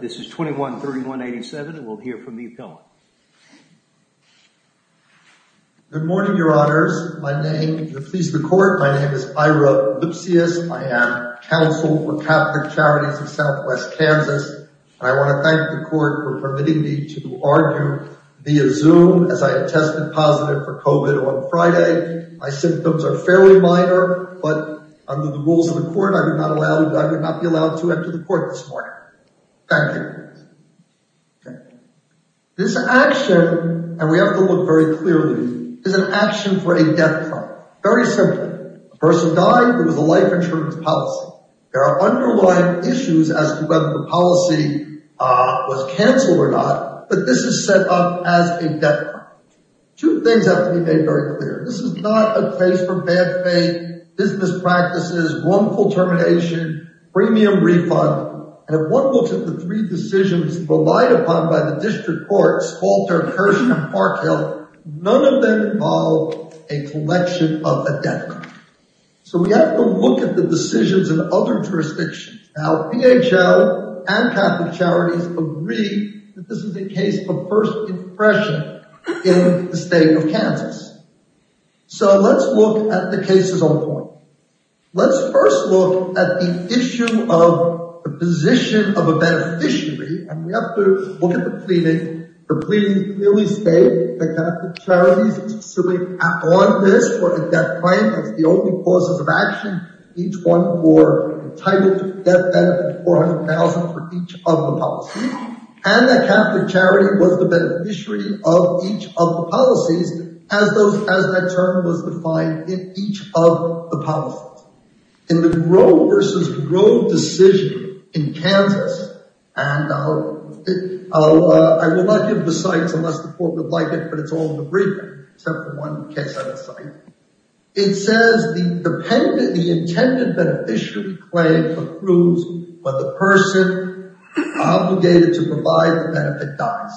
This is 21-3187 and we'll hear from the appellant. Good morning, your honors. My name, if you'll please the court, my name is Ira Lipsius. I am counsel for Catholic Charities of Southwest Kansas. I want to thank the court for permitting me to argue via Zoom as I had tested positive for COVID on Friday. My symptoms are fairly minor, but under the rules of the court, I would not allow, I would not be allowed to enter the court this morning. Thank you. This action, and we have to look very clearly, is an action for a death trial. Very simple. A person died. It was a life insurance policy. There are underlying issues as to whether the policy was canceled or not, but this is set up as a death trial. Two things have to be made very clear. This is not a case for bad faith, business practices, wrongful termination, premium refund, and if one looks at the three decisions relied upon by the district courts, Walter, Hershey, and Parkhill, none of them involve a collection of a death. So we have to look at the decisions in other jurisdictions. Now, PHL and Catholic Charities agree that this is a case of first impression in the state of Kansas. So let's look at the cases on point. Let's first look at the issue of the position of a beneficiary, and we have to look at the pleading. The pleading clearly states that Catholic Charities is assuming on this for a death claim as the only causes of action. Each one were entitled to death benefit of $400,000 for each of the policies, and that Catholic Charity was the beneficiary of each of the policies as that term was defined in each of the policies. In the Grove versus Grove decision in Kansas, and I will not give the sites unless the court would like it, but it's all in the briefing except for one case on the site. It says the intended beneficiary claim approves when the person obligated to provide the benefit dies.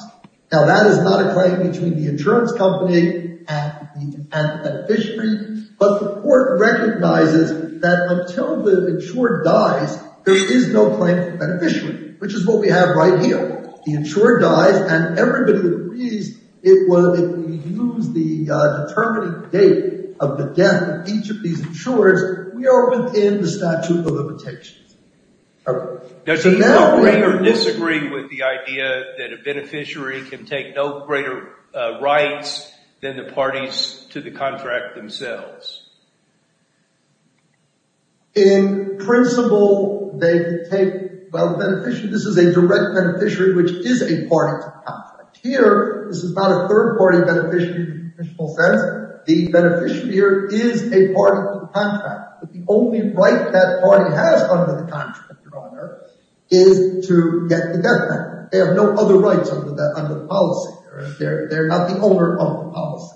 Now, that is not a claim between the insurance company and the beneficiary, but the court recognizes that until the insured dies, there is no claim for the beneficiary, which is what we have right here. The insured dies, and everybody agrees it was, if we use the determining date of the death of each of these insureds, we are within the statute of limitations. Does he agree or disagree with the idea that a beneficiary can take no greater rights than the contract themselves? In principle, they take, well, the beneficiary, this is a direct beneficiary, which is a part of the contract. Here, this is not a third party beneficiary in the principle sense. The beneficiary here is a part of the contract, but the only right that party has under the contract, Your Honor, is to get the death benefit. They have no other rights under the policy. They're not the owner of the policy,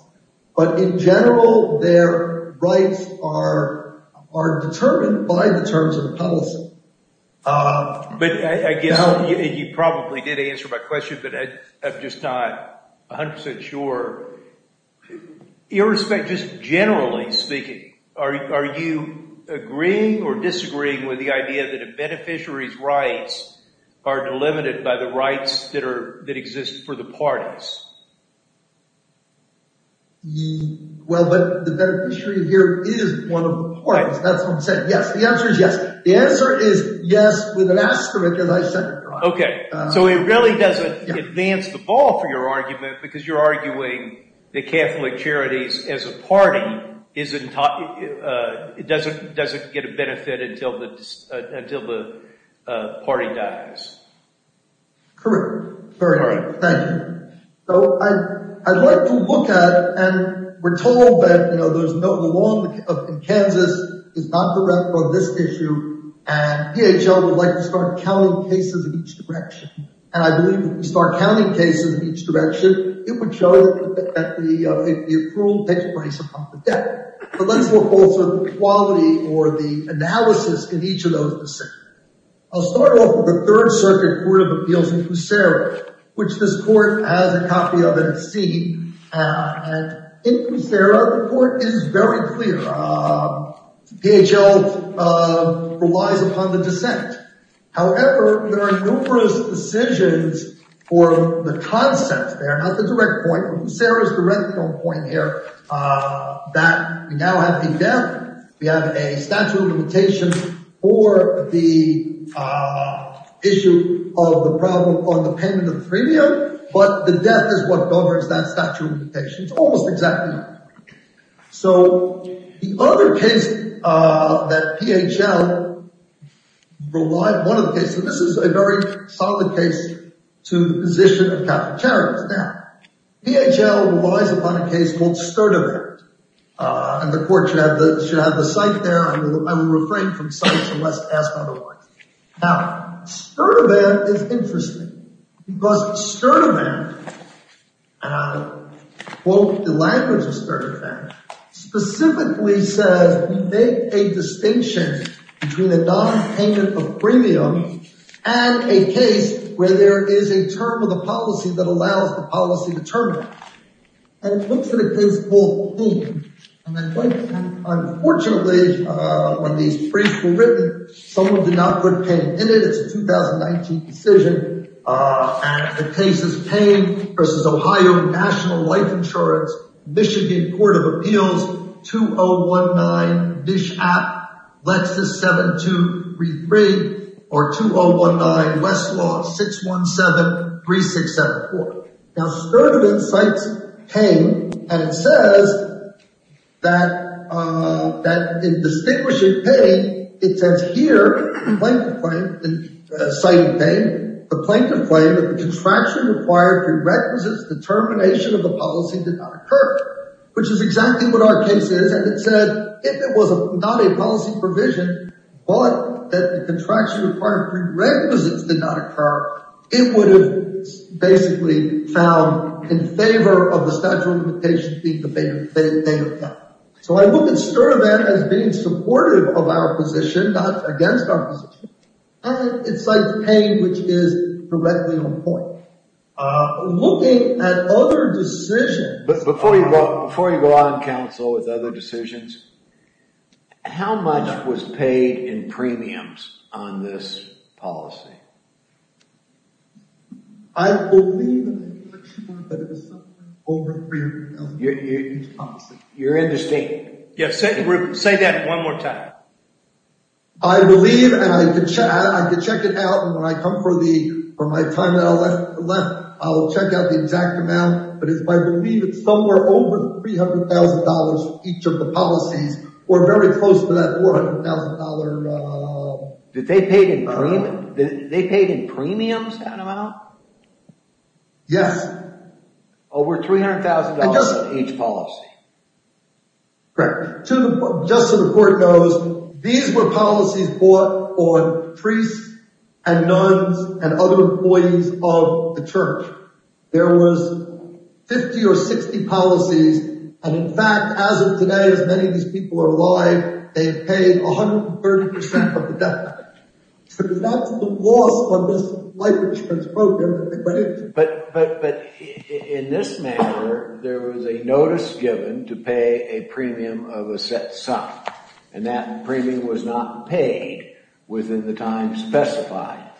but in general, their rights are determined by the terms of the policy. But I guess you probably did answer my question, but I'm just not 100% sure. Irrespective, just generally speaking, are you agreeing or disagreeing with the idea that a beneficiary can take no greater rights? Well, but the beneficiary here is one of the parties. That's what I'm saying. Yes, the answer is yes. The answer is yes with an asterisk, as I said. Okay, so it really doesn't advance the ball for your argument because you're arguing the Catholic Charities as a party doesn't get a benefit until the party dies. Correct. Thank you. So I'd like to look at, and we're told that, you know, there's no, the law in Kansas is not correct on this issue, and DHL would like to start counting cases in each direction. And I believe if we start counting cases in each direction, it would show that the approval takes place upon the death. But let's look also at the quality or the analysis in each of those decisions. I'll start off with the Third Circuit Court of Appeals in Kusera, which this court has a copy of, and it's seen. And in Kusera, the court is very clear. DHL relies upon the dissent. However, there are numerous decisions for the concept there, not the direct point, but Kusera's direct point here, that we now have a death, we have a statute of limitation for the issue of the problem on the payment of the premium, but the death is what governs that statute of limitation. It's almost exactly the same. So the other case that DHL relied, one of the cases, and this is a very solid case to the position of Catholic Charities. Now, DHL relies upon a case called Sturtevant. And the court should have the cite there. I will refrain from cites unless asked otherwise. Now, Sturtevant is interesting because Sturtevant, and I'll quote the language of Sturtevant, specifically says, we make a distinction between a non-payment of premium and a case where there is a term of the policy that allows the policy to terminate. And it looks at a case called Payne. And unfortunately, when these briefs were written, someone did not put Payne in it. It's a 2019 decision. And the case is Payne versus Ohio National Life Insurance, Michigan Court of Appeals, 2019, Nishap, Lexis 7233, or 2019, Westlaw 6173674. Now, Sturtevant cites Payne, and it says that in distinguishing Payne, it says here, citing Payne, the plaintiff claimed that the contraction required prerequisites determination of the policy did not occur, which is exactly what our case is. And it said, if it was not a policy provision, but that the contraction required prerequisites did not occur, it would have basically found in favor of the statute of limitations being the fate of them. So I look at Sturtevant as being supportive of our position, not against our position. And it cites Payne, which is directly on point. Looking at other decisions... Before you go out on counsel with other decisions, how much was paid in premiums on this policy? I believe that it was something over $300,000. You're understated. Yes, say that one more time. I believe, and I could check it out, and when I come for my time that I left, I'll check out the exact amount, but I believe it's somewhere over $300,000 for each of the policies, or very close to that $400,000. Did they pay in premiums that amount? Yes. Over $300,000 for each policy? Correct. Just so the court knows, these were policies bought on priests, and nuns, and other employees of the church. There was 50 or 60 policies, and in fact, as of today, as many of these people are alive, they've paid 130% of the debt. So that's the loss of this life insurance program. But in this matter, there was a notice given to pay a premium of a set sum, and that premium was not paid within the time specified.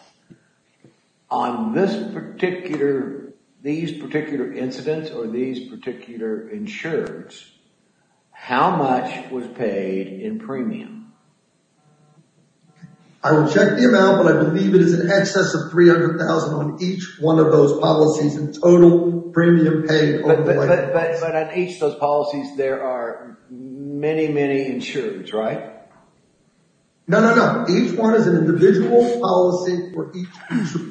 On this particular, these particular incidents, or these particular insurers, how much was paid in premium? I will check the amount, but I believe it is in excess of $300,000 on each one of those policies, and total premium paid- But on each of those policies, there are many, many insurers, right? No, no, no. Each one is an individual policy for each insurer.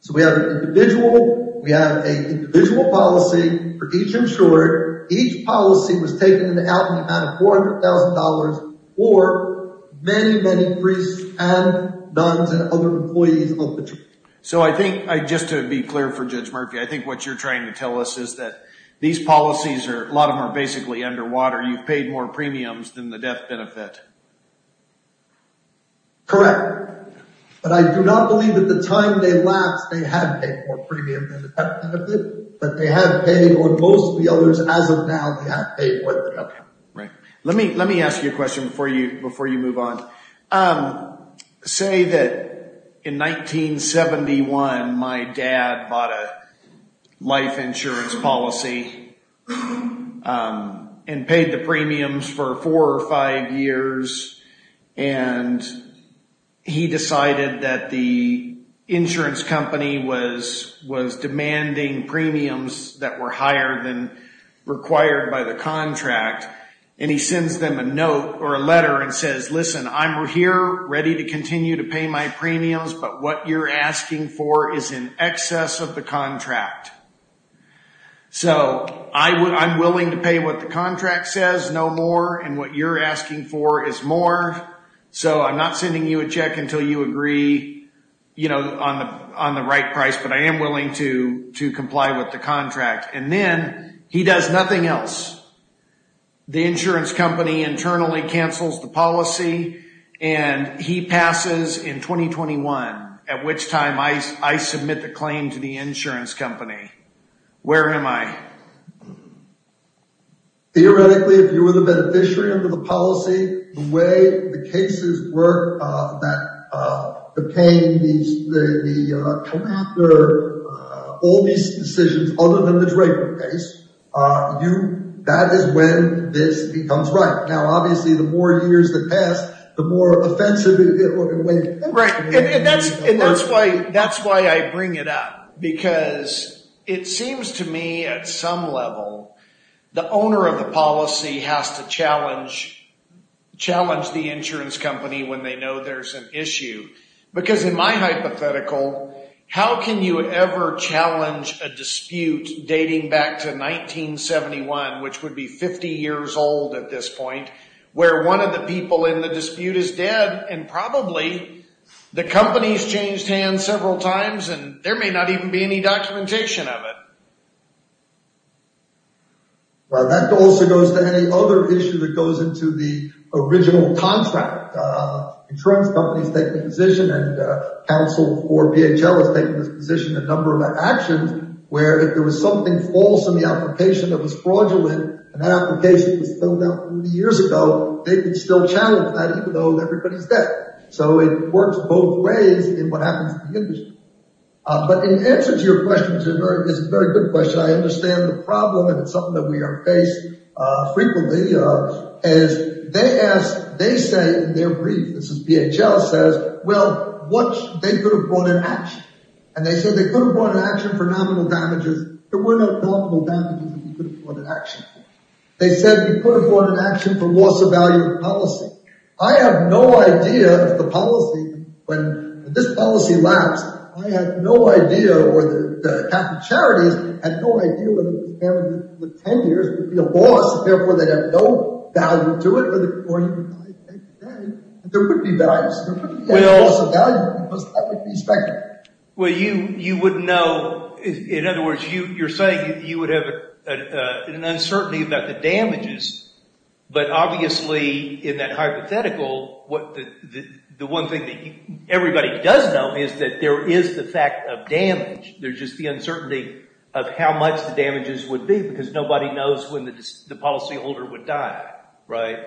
So we have an individual, we have an individual policy for each insurer. Each policy was taken out in the amount of $400,000 for many, many priests, and nuns, and other employees of the church. So I think, just to be clear for Judge Murphy, I think what you're trying to tell us is that these policies are, a lot of them are basically underwater. You've paid more premiums than the death benefit. Correct. But I do not believe at the time they lapsed, they had paid more premium than the death benefit, but they have paid, or most of the others as of now, they have paid more than death benefit. Right. Let me, let me ask you a question before you, before you move on. Say that in 1971, my dad bought a life insurance policy, and paid the premiums for four or five years, and he decided that the insurance company was, was demanding premiums that were higher than required by the contract. And he sends them a note or a letter and says, listen, I'm here ready to continue to pay my premiums, but what you're asking for is in excess of the contract. So I would, I'm willing to pay what the contract says, no more. And what you're asking for is more. So I'm not sending you a check until you agree, you know, on the, on the right price, but I am willing to, to comply with the contract. And then he does nothing else. The insurance company internally cancels the policy and he passes in 2021, at which time I, I submit the claim to the insurance company. Where am I? Theoretically, if you were the beneficiary under the policy, the way the cases work, that, uh, the pain, the, the, uh, come after, uh, all these decisions other than the Draper case, uh, you, that is when this becomes right. Now, obviously the more years that pass, the more offensive it will be. Right. And that's why, that's why I bring it up because it seems to me at some level, the owner of the policy has to challenge, challenge the insurance company when they know there's an issue, because in my hypothetical, how can you ever challenge a dispute dating back to 1971, which would be 50 years old at this point, where one of the people in the dispute is dead and probably the company's changed hands several times, and there may not even be any documentation of it. Well, that also goes to any other issue that goes into the original contract, uh, insurance companies taking position and, uh, counsel for BHL has taken this position, a number of actions where if there was something false in the application that was fraudulent and that application was filled out 30 years ago, they could still challenge that even though everybody's dead. So it works both ways in what happens in the industry. But in answer to your question, it's a very, it's a very good question. I understand the problem and it's something that we are faced, uh, frequently, uh, as they ask, they say in their brief, this is BHL says, well, what they could have brought in action. And they said they could have brought in action for nominal damages. There were no nominal damages that you could have brought in action for. They said you could have brought in action for loss of value of policy. I have no idea if the policy, when this policy lapsed, I had no idea or the, uh, capital charities had no idea whether the family with 10 years would be a loss. Therefore, they have no value to it or even today, there would be values. There would be loss of value because that would be speculative. Well, you, you wouldn't know, in other words, you, you're saying you would have an uncertainty about the damages, but obviously in that hypothetical, what the, the, the one thing that everybody does know is that there is the fact of damage. There's just the uncertainty of how much the damages would be because nobody knows when the, the policy holder would die. Right?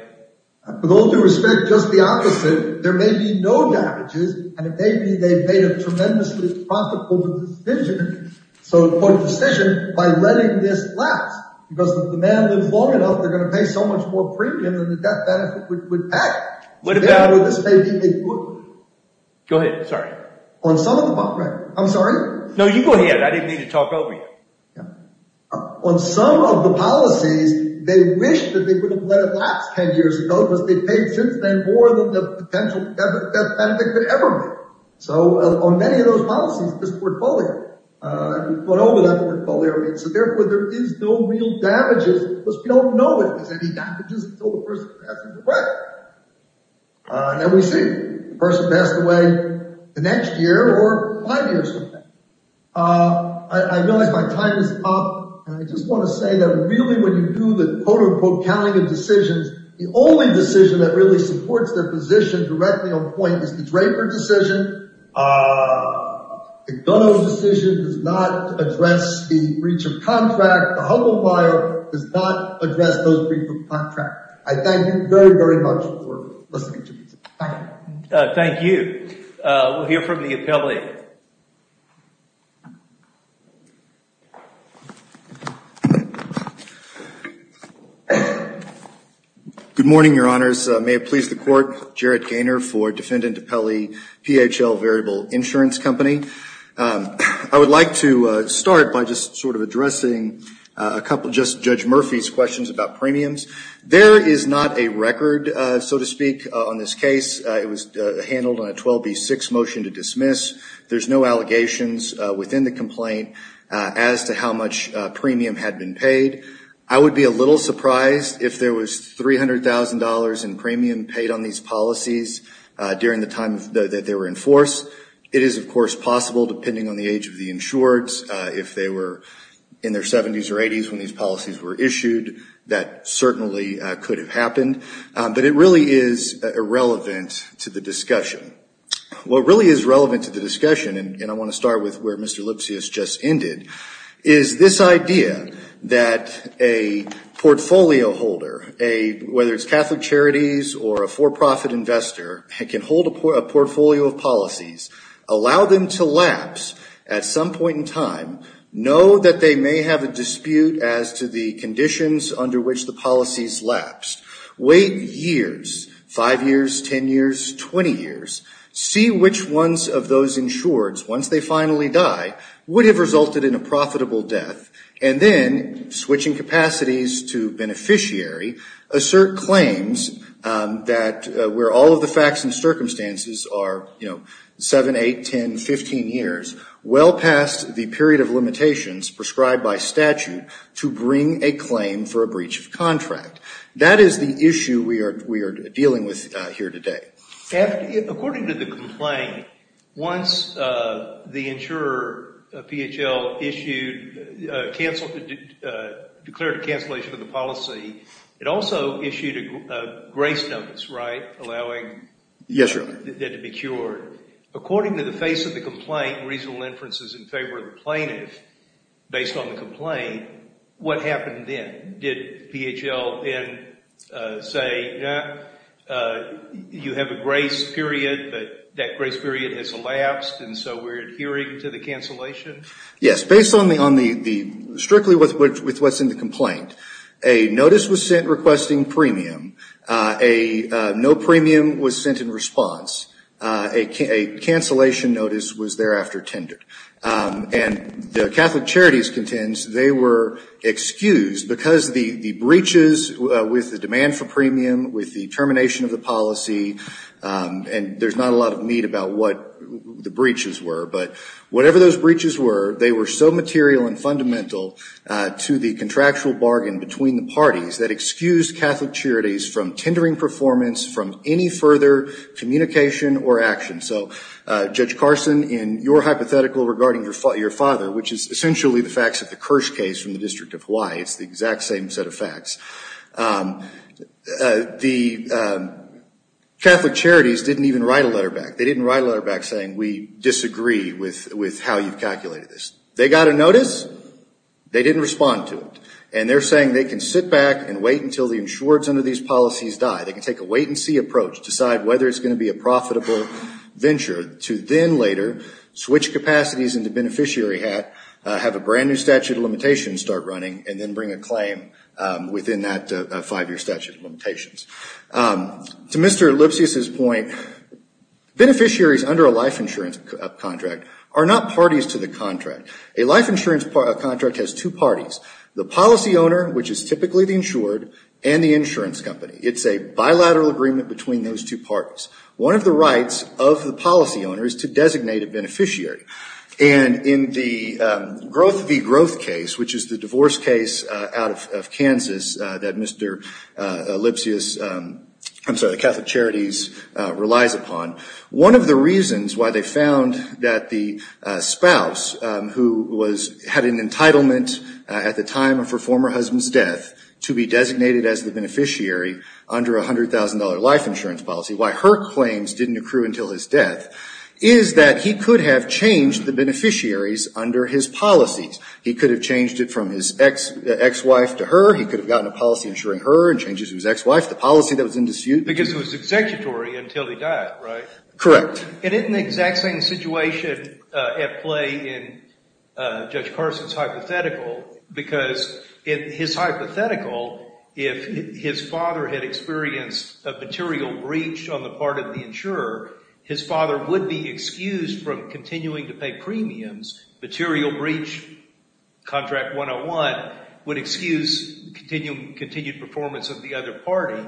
With all due respect, just the opposite. There may be no damages and it may be they've made a tremendously profitable decision. So put a decision by letting this last because the man lives long enough. They're going to pay so much more premium than the death benefit would, would act. What about this? Go ahead. Sorry. On some of them, I'm sorry. No, you go ahead. I didn't need to talk over you. On some of the policies, they wish that they would have let it last 10 years ago because they paid since then more than the potential death benefit could ever make. So on many of those policies, this portfolio, uh, we put over that portfolio. I mean, so therefore there is no real damages because we don't know if there's any damages until the person passes away. Uh, and then we see the person passed away the next year or five years from now. Uh, I, I realize my time is up and I just want to say that really when you do the quote unquote counting of decisions, the only decision that really supports their position directly is the Draper decision. Uh, the Gono decision does not address the breach of contract. The humble file does not address those breach of contract. I thank you very, very much for listening to me. Thank you. Uh, we'll hear from the appellate. Good morning, your honors. May it please the court. Jarrett Gaynor for Defendant Appellee, PHL Variable Insurance Company. Um, I would like to, uh, start by just sort of addressing a couple, just Judge Murphy's questions about premiums. There is not a record, uh, so to speak on this case. It was, uh, handled on a 12B6 motion to dismiss. There's no allegations, uh, within the complaint, uh, as to how much a premium had been paid. I would be a little surprised if there was $300,000 in premium paid on these policies, uh, during the time that they were in force. It is of course possible depending on the age of the insureds, uh, if they were in their seventies or eighties when these policies were issued, that certainly, uh, could have happened. Um, but it really is irrelevant to the discussion. What really is relevant to the discussion, and I want to start with where Mr. Lipsius just ended, is this idea that a portfolio holder, a, whether it's Catholic Charities or a for-profit investor, can hold a portfolio of policies, allow them to lapse at some point in time, know that they may have a dispute as to the conditions under which the policies lapsed, wait years, five years, 10 years, 20 years, see which ones of those insureds, once they finally die, would have resulted in a profitable death, and then switching capacities to beneficiary, assert claims, um, that, uh, where all of the facts and circumstances are, you know, seven, eight, 10, 15 years, well past the period of limitations prescribed by statute to bring a claim for a breach of contract. That is the issue we are, we are dealing with, uh, here today. According to the complaint, once, uh, the insurer, uh, PHL issued, uh, canceled, uh, declared a cancellation of the policy, it also issued a, uh, grace notice, right? Allowing that to be cured. According to the face of the complaint, reasonable inferences in favor of the plaintiff, based on the complaint, what happened then? Did PHL then, uh, say, yeah, uh, you have a grace period, but that grace period has elapsed, and so we're adhering to the cancellation? Yes, based on the, on the, the, strictly with, with, with what's in the complaint, a notice was sent requesting premium, uh, a, uh, no premium was sent in response, uh, a, a cancellation notice was thereafter tendered. Um, and the Catholic Charities contends they were excused because the, the breaches, uh, with the demand for premium, with the termination of the policy, um, and there's not a lot of meat about what the breaches were, but whatever those breaches were, they were so material and fundamental, uh, to the contractual bargain between the parties that excused Catholic Charities from tendering performance from any further communication or action. So, uh, Judge Carson, in your hypothetical regarding your, your father, which is essentially the facts of the Kirsch case from the District of Hawaii, it's the exact same set of facts, um, uh, the, uh, Catholic Charities didn't even write a letter back. They didn't write a letter back saying, we disagree with, with how you calculated this. They got a notice, they didn't respond to it, and they're saying they can sit back and wait until the insureds under these policies die. They can take a wait-and-see approach, decide whether it's going to be a profitable venture to then later switch capacities into beneficiary hat, uh, have a brand new statute of limitations start running, and then bring a claim, um, within that, uh, five-year statute of limitations. Um, to Mr. Lipsius's point, beneficiaries under a life insurance, uh, contract are not parties to the contract. A life insurance part, a contract has two parties, the policy owner, which is typically the insured, and the insurance company. It's a bilateral agreement between those two parties. One of the rights of the policy owner is to designate a beneficiary, and in the, um, growth v. growth case, which is the divorce case, uh, out of, of Kansas, uh, that Mr., uh, Lipsius, um, I'm sorry, the Catholic Charities, uh, relies upon, one of the reasons why they found that the, uh, spouse, um, who was, had an entitlement, uh, at the time of her former husband's death to be designated as the beneficiary under a $100,000 life insurance policy. Why her claims didn't accrue until his death is that he could have changed the beneficiaries under his policies. He could have changed it from his ex, uh, ex-wife to her, he could have gotten a policy insuring her, and changed it to his ex-wife. The policy that was in dispute. Because it was executory until he died, right? Correct. And isn't the exact same situation, uh, at play in, uh, Judge Carson's hypothetical, because in his hypothetical, if his father had experienced a material breach on the part of the insurer, his father would be excused from continuing to pay premiums. Material breach, contract 101, would excuse continue, continued performance of the other party.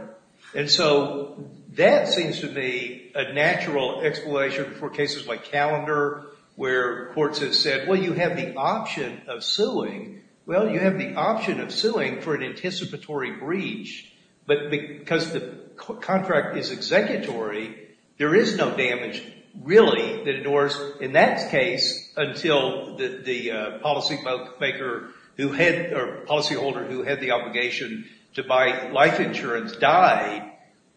And so, that seems to me a natural explanation for cases like Calendar, where courts have said, well, you have the option of suing, well, you have the option of suing for an anticipatory breach, but because the contract is executory, there is no damage, really, that endures in that case until the, the, uh, policymaker who had, or policyholder who had the obligation to buy life insurance died,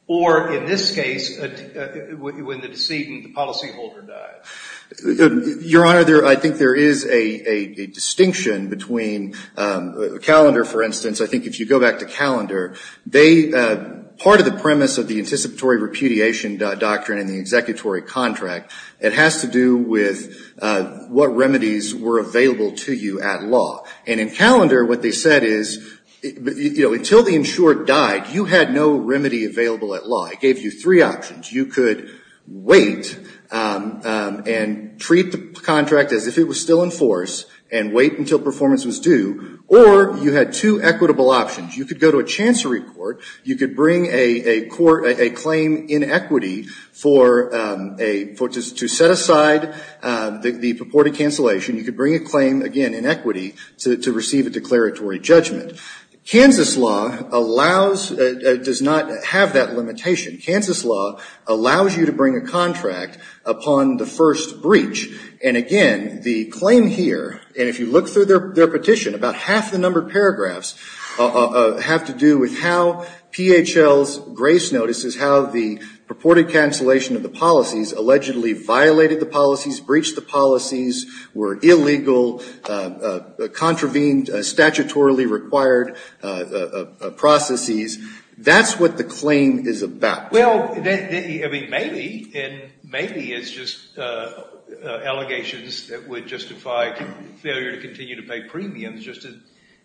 or in this case, when the decedent, the policyholder died. Your Honor, there, I think there is a, a distinction between, um, Calendar, for instance, I think if you go back to Calendar, they, uh, part of the premise of the anticipatory repudiation doctrine in the executory contract, it has to do with, uh, what remedies were available to you at law. And in Calendar, what they said is, you know, until the insurer died, you had no remedy available at law. It gave you three options. You could wait, um, um, and treat the contract as if it was still in force, and wait until performance was due, or you had two equitable options. You could go to a chancery court, you could bring a, a court, a claim in equity for, um, a, for, to set aside, um, the purported cancellation. You could bring a claim, again, in equity, to, to receive a declaratory judgment. Kansas law allows, uh, does not have that limitation. Kansas law allows you to bring a contract upon the first breach. And again, the claim here, and if you look through their, their petition, about half the numbered paragraphs, uh, uh, have to do with how PHL's grace notices, how the purported cancellation of the policies allegedly violated the policies, breached the policies, were illegal, uh, uh, contravened, uh, statutorily required, uh, uh, uh, processes. That's what the claim is about. Well, then, then, I mean, maybe, and maybe it's just, uh, uh, allegations that would justify failure to continue to pay premiums, just as,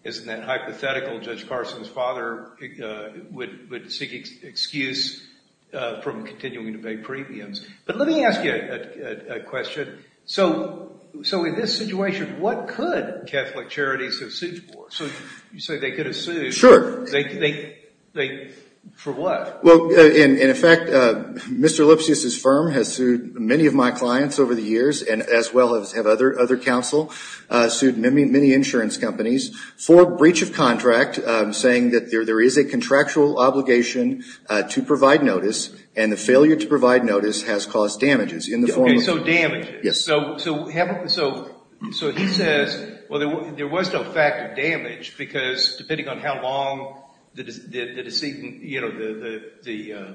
as in that hypothetical, Judge Carson's father, uh, would, would seek excuse, uh, from continuing to pay premiums. But let me ask you a, a, a question. So, so in this situation, what could Catholic charities have sued for? So, you say they could have sued. Sure. They, they, they, for what? Well, uh, in, in effect, uh, Mr. Lipsius's firm has sued many of my clients over the years, and as well as have other, other counsel, uh, sued many, many insurance companies for breach of contract, uh, saying that there, there is a contractual obligation, uh, to provide notice, and the failure to provide notice has caused damages in the form of... Okay, so damages. Yes. So, so, so, so, so he says, well, there, there was no fact of damage because depending on how long the, the, the deceit, you know, the, the, the, uh,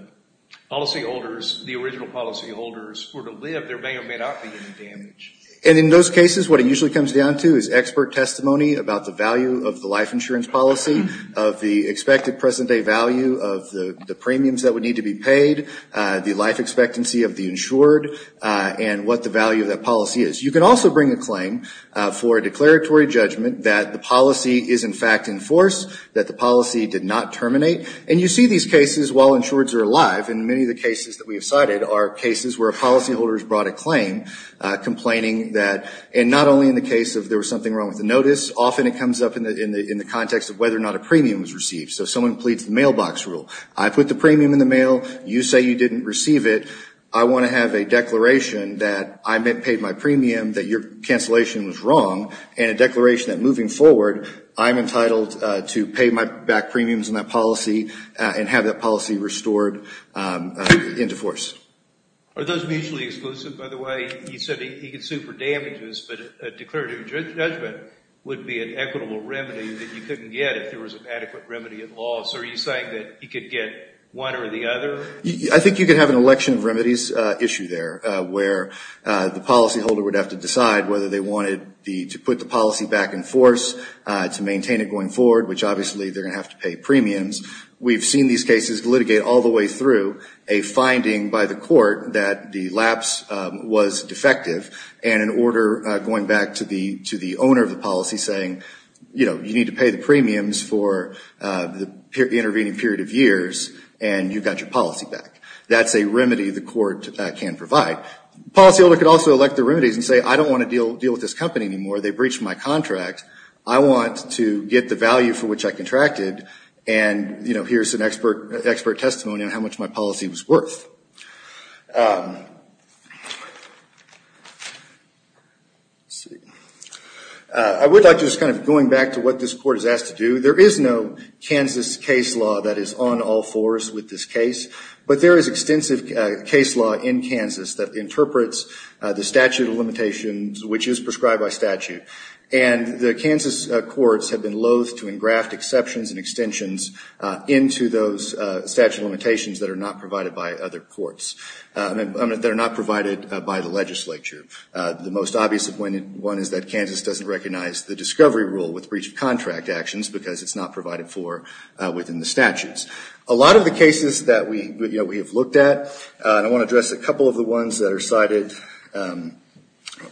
policyholders, the original policyholders were to live, there may or may not be any damage. And in those cases, what it usually comes down to is expert testimony about the value of the life insurance policy, of the expected present day value of the, the premiums that would need to be paid, uh, the life expectancy of the insured, uh, and what the value of that policy is. You can also bring a claim, uh, for a declaratory judgment that the policy is in fact in force, that the policy did not terminate, and you see these cases while insureds are alive, and many of the cases that we have cited are cases where a policyholder has brought a claim, uh, complaining that, and not only in the case of there was something wrong with the notice, often it comes up in the, in the, in the context of whether or not a premium was received. So someone pleads the mailbox rule. I put the premium in the mail, you say you didn't receive it, I want to have a declaration that I paid my premium, that your cancellation was wrong, and a declaration that moving forward, I'm entitled, uh, to pay my back premiums on that policy, uh, and have that policy restored, um, uh, into force. Are those mutually exclusive, by the way? You said he could sue for damages, but a declaratory judgment would be an equitable remedy that you couldn't get if there was an adequate remedy in law. So are you saying that he could get one or the other? So, I think you could have an election of remedies, uh, issue there, uh, where, uh, the policyholder would have to decide whether they wanted the, to put the policy back in force, uh, to maintain it going forward, which obviously they're going to have to pay premiums. We've seen these cases litigate all the way through a finding by the court that the lapse, um, was defective, and an order, uh, going back to the, to the owner of the policy saying, you know, you need to pay the premiums for, uh, the intervening period of years, and you've got your policy back. That's a remedy the court, uh, can provide. Policyholder could also elect the remedies and say, I don't want to deal, deal with this company anymore. They breached my contract. I want to get the value for which I contracted, and, you know, here's an expert, expert testimony on how much my policy was worth. Um, let's see. Uh, I would like to just kind of going back to what this court is asked to do. There is no Kansas case law that is on all fours with this case, but there is extensive, uh, case law in Kansas that interprets, uh, the statute of limitations, which is prescribed by statute. And the Kansas, uh, courts have been loath to engraft exceptions and extensions, uh, into those, uh, statute of limitations that are not provided by other courts, uh, that are not provided by the legislature. Uh, the most obvious one is that Kansas doesn't recognize the discovery rule with breach of contract actions because it's not provided for, uh, within the statutes. A lot of the cases that we, you know, we have looked at, uh, and I want to address a couple of the ones that are cited, um,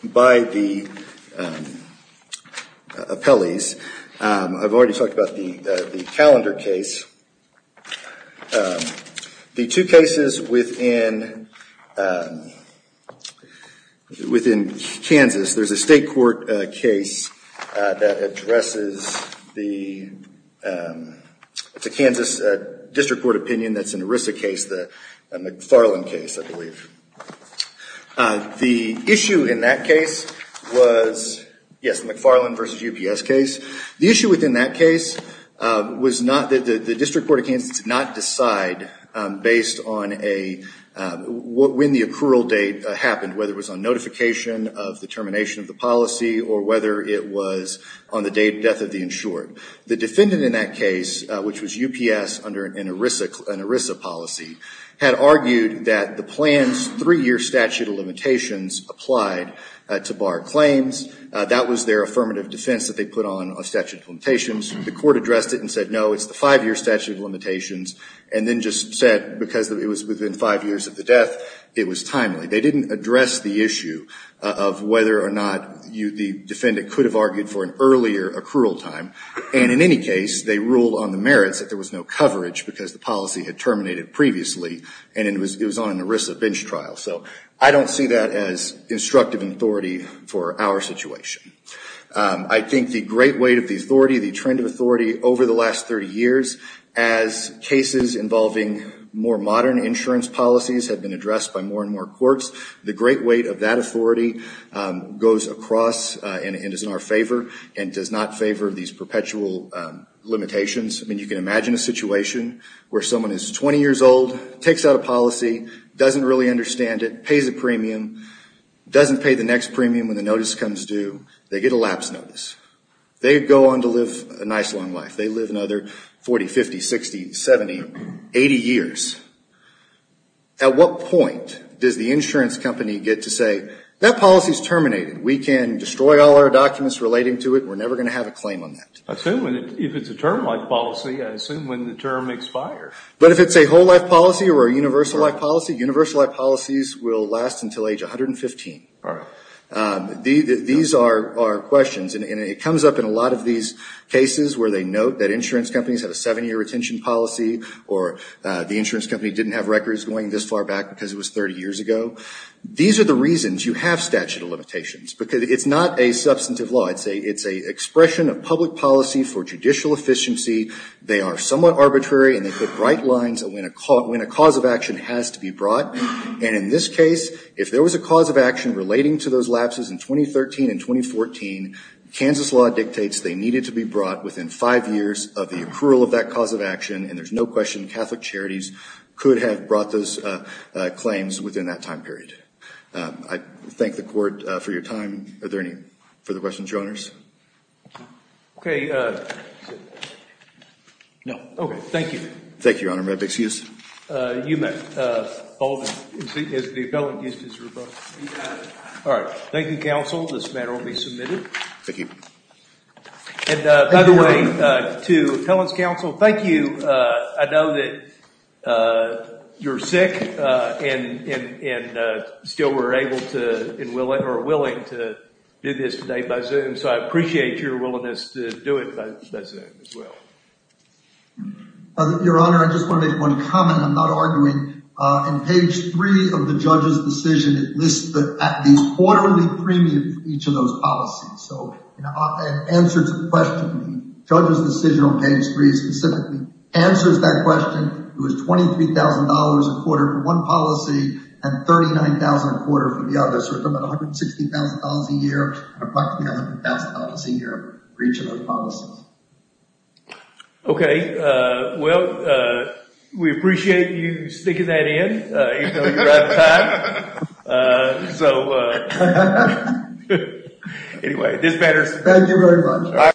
by the, um, uh, appellees. Um, I've already talked about the, uh, the calendar case. Um, the two cases within, um, within Kansas, there's a state court, uh, case, uh, that addresses the, um, it's a Kansas, uh, district court opinion that's an ERISA case, the McFarland case, I believe. Uh, the issue in that case was, yes, McFarland versus UPS case. The issue within that case, uh, was not that the, the district court of Kansas did not decide, um, based on a, uh, when the accrual date, uh, happened, whether it was on notification of the termination of the policy or whether it was on the date of death of the insured. The defendant in that case, uh, which was UPS under an ERISA, an ERISA policy, had argued that the plan's three-year statute of limitations applied, uh, to bar claims. Uh, that was their affirmative defense that they put on of statute of limitations. The court addressed it and said, no, it's the five-year statute of limitations, and then just said because it was within five years of the death, it was timely. They didn't address the issue of whether or not you, the defendant could have argued for an earlier accrual time. And in any case, they ruled on the merits that there was no coverage because the policy had terminated previously and it was, it was on an ERISA bench trial. So I don't see that as instructive authority for our situation. Um, I think the great weight of the authority, the trend of authority over the last 30 years as cases involving more modern insurance policies have been addressed by more and more courts, the great weight of that authority, um, goes across and is in our favor and does not favor these perpetual, um, limitations. I mean, you can imagine a situation where someone is 20 years old, takes out a policy, doesn't really understand it, pays a premium, doesn't pay the next premium when the notice comes due. They get a lapse notice. They go on to live a nice long life. They live another 40, 50, 60, 70, 80 years. At what point does the insurance company get to say, that policy is terminated. We can destroy all our documents relating to it. We're never going to have a claim on that. I assume if it's a term life policy, I assume when the term expires. But if it's a whole life policy or a universal life policy, universal life policies will last until age 115. All right. These are questions, and it comes up in a lot of these cases where they note that insurance companies have a seven-year retention policy or the insurance company didn't have records going this far back because it was 30 years ago. These are the reasons you have statute of limitations because it's not a substantive law. It's a expression of public policy for judicial efficiency. They are somewhat arbitrary, and they put bright lines when a cause of action has to be brought. And in this case, if there was a cause of action relating to those lapses in 2013 and 2014, Kansas law dictates they needed to be brought within five years of the accrual of that cause of action, and there's no question Catholic charities could have brought those claims within that time period. I thank the court for your time. Are there any further questions, Your Honors? Okay. No. Okay. Thank you. Thank you, Your Honor. Your Honor, may I be excused? You may. All right. Thank you, counsel. This matter will be submitted. Thank you. And by the way, to Appellant's counsel, thank you. I know that you're sick and still were able to or willing to do this today by Zoom, so I appreciate your willingness to do it by Zoom as well. Your Honor, I just want to make one comment. I'm not arguing. In page three of the judge's decision, it lists the quarterly premium for each of those policies. So it answers the question. The judge's decision on page three specifically answers that question. It was $23,000 a quarter for one policy and $39,000 a quarter for the other. So it's about $160,000 a year and approximately $100,000 a year for each of those policies. Okay. Well, we appreciate you sticking that in even though you're out of time. So anyway, this matter is submitted. Thank you very much.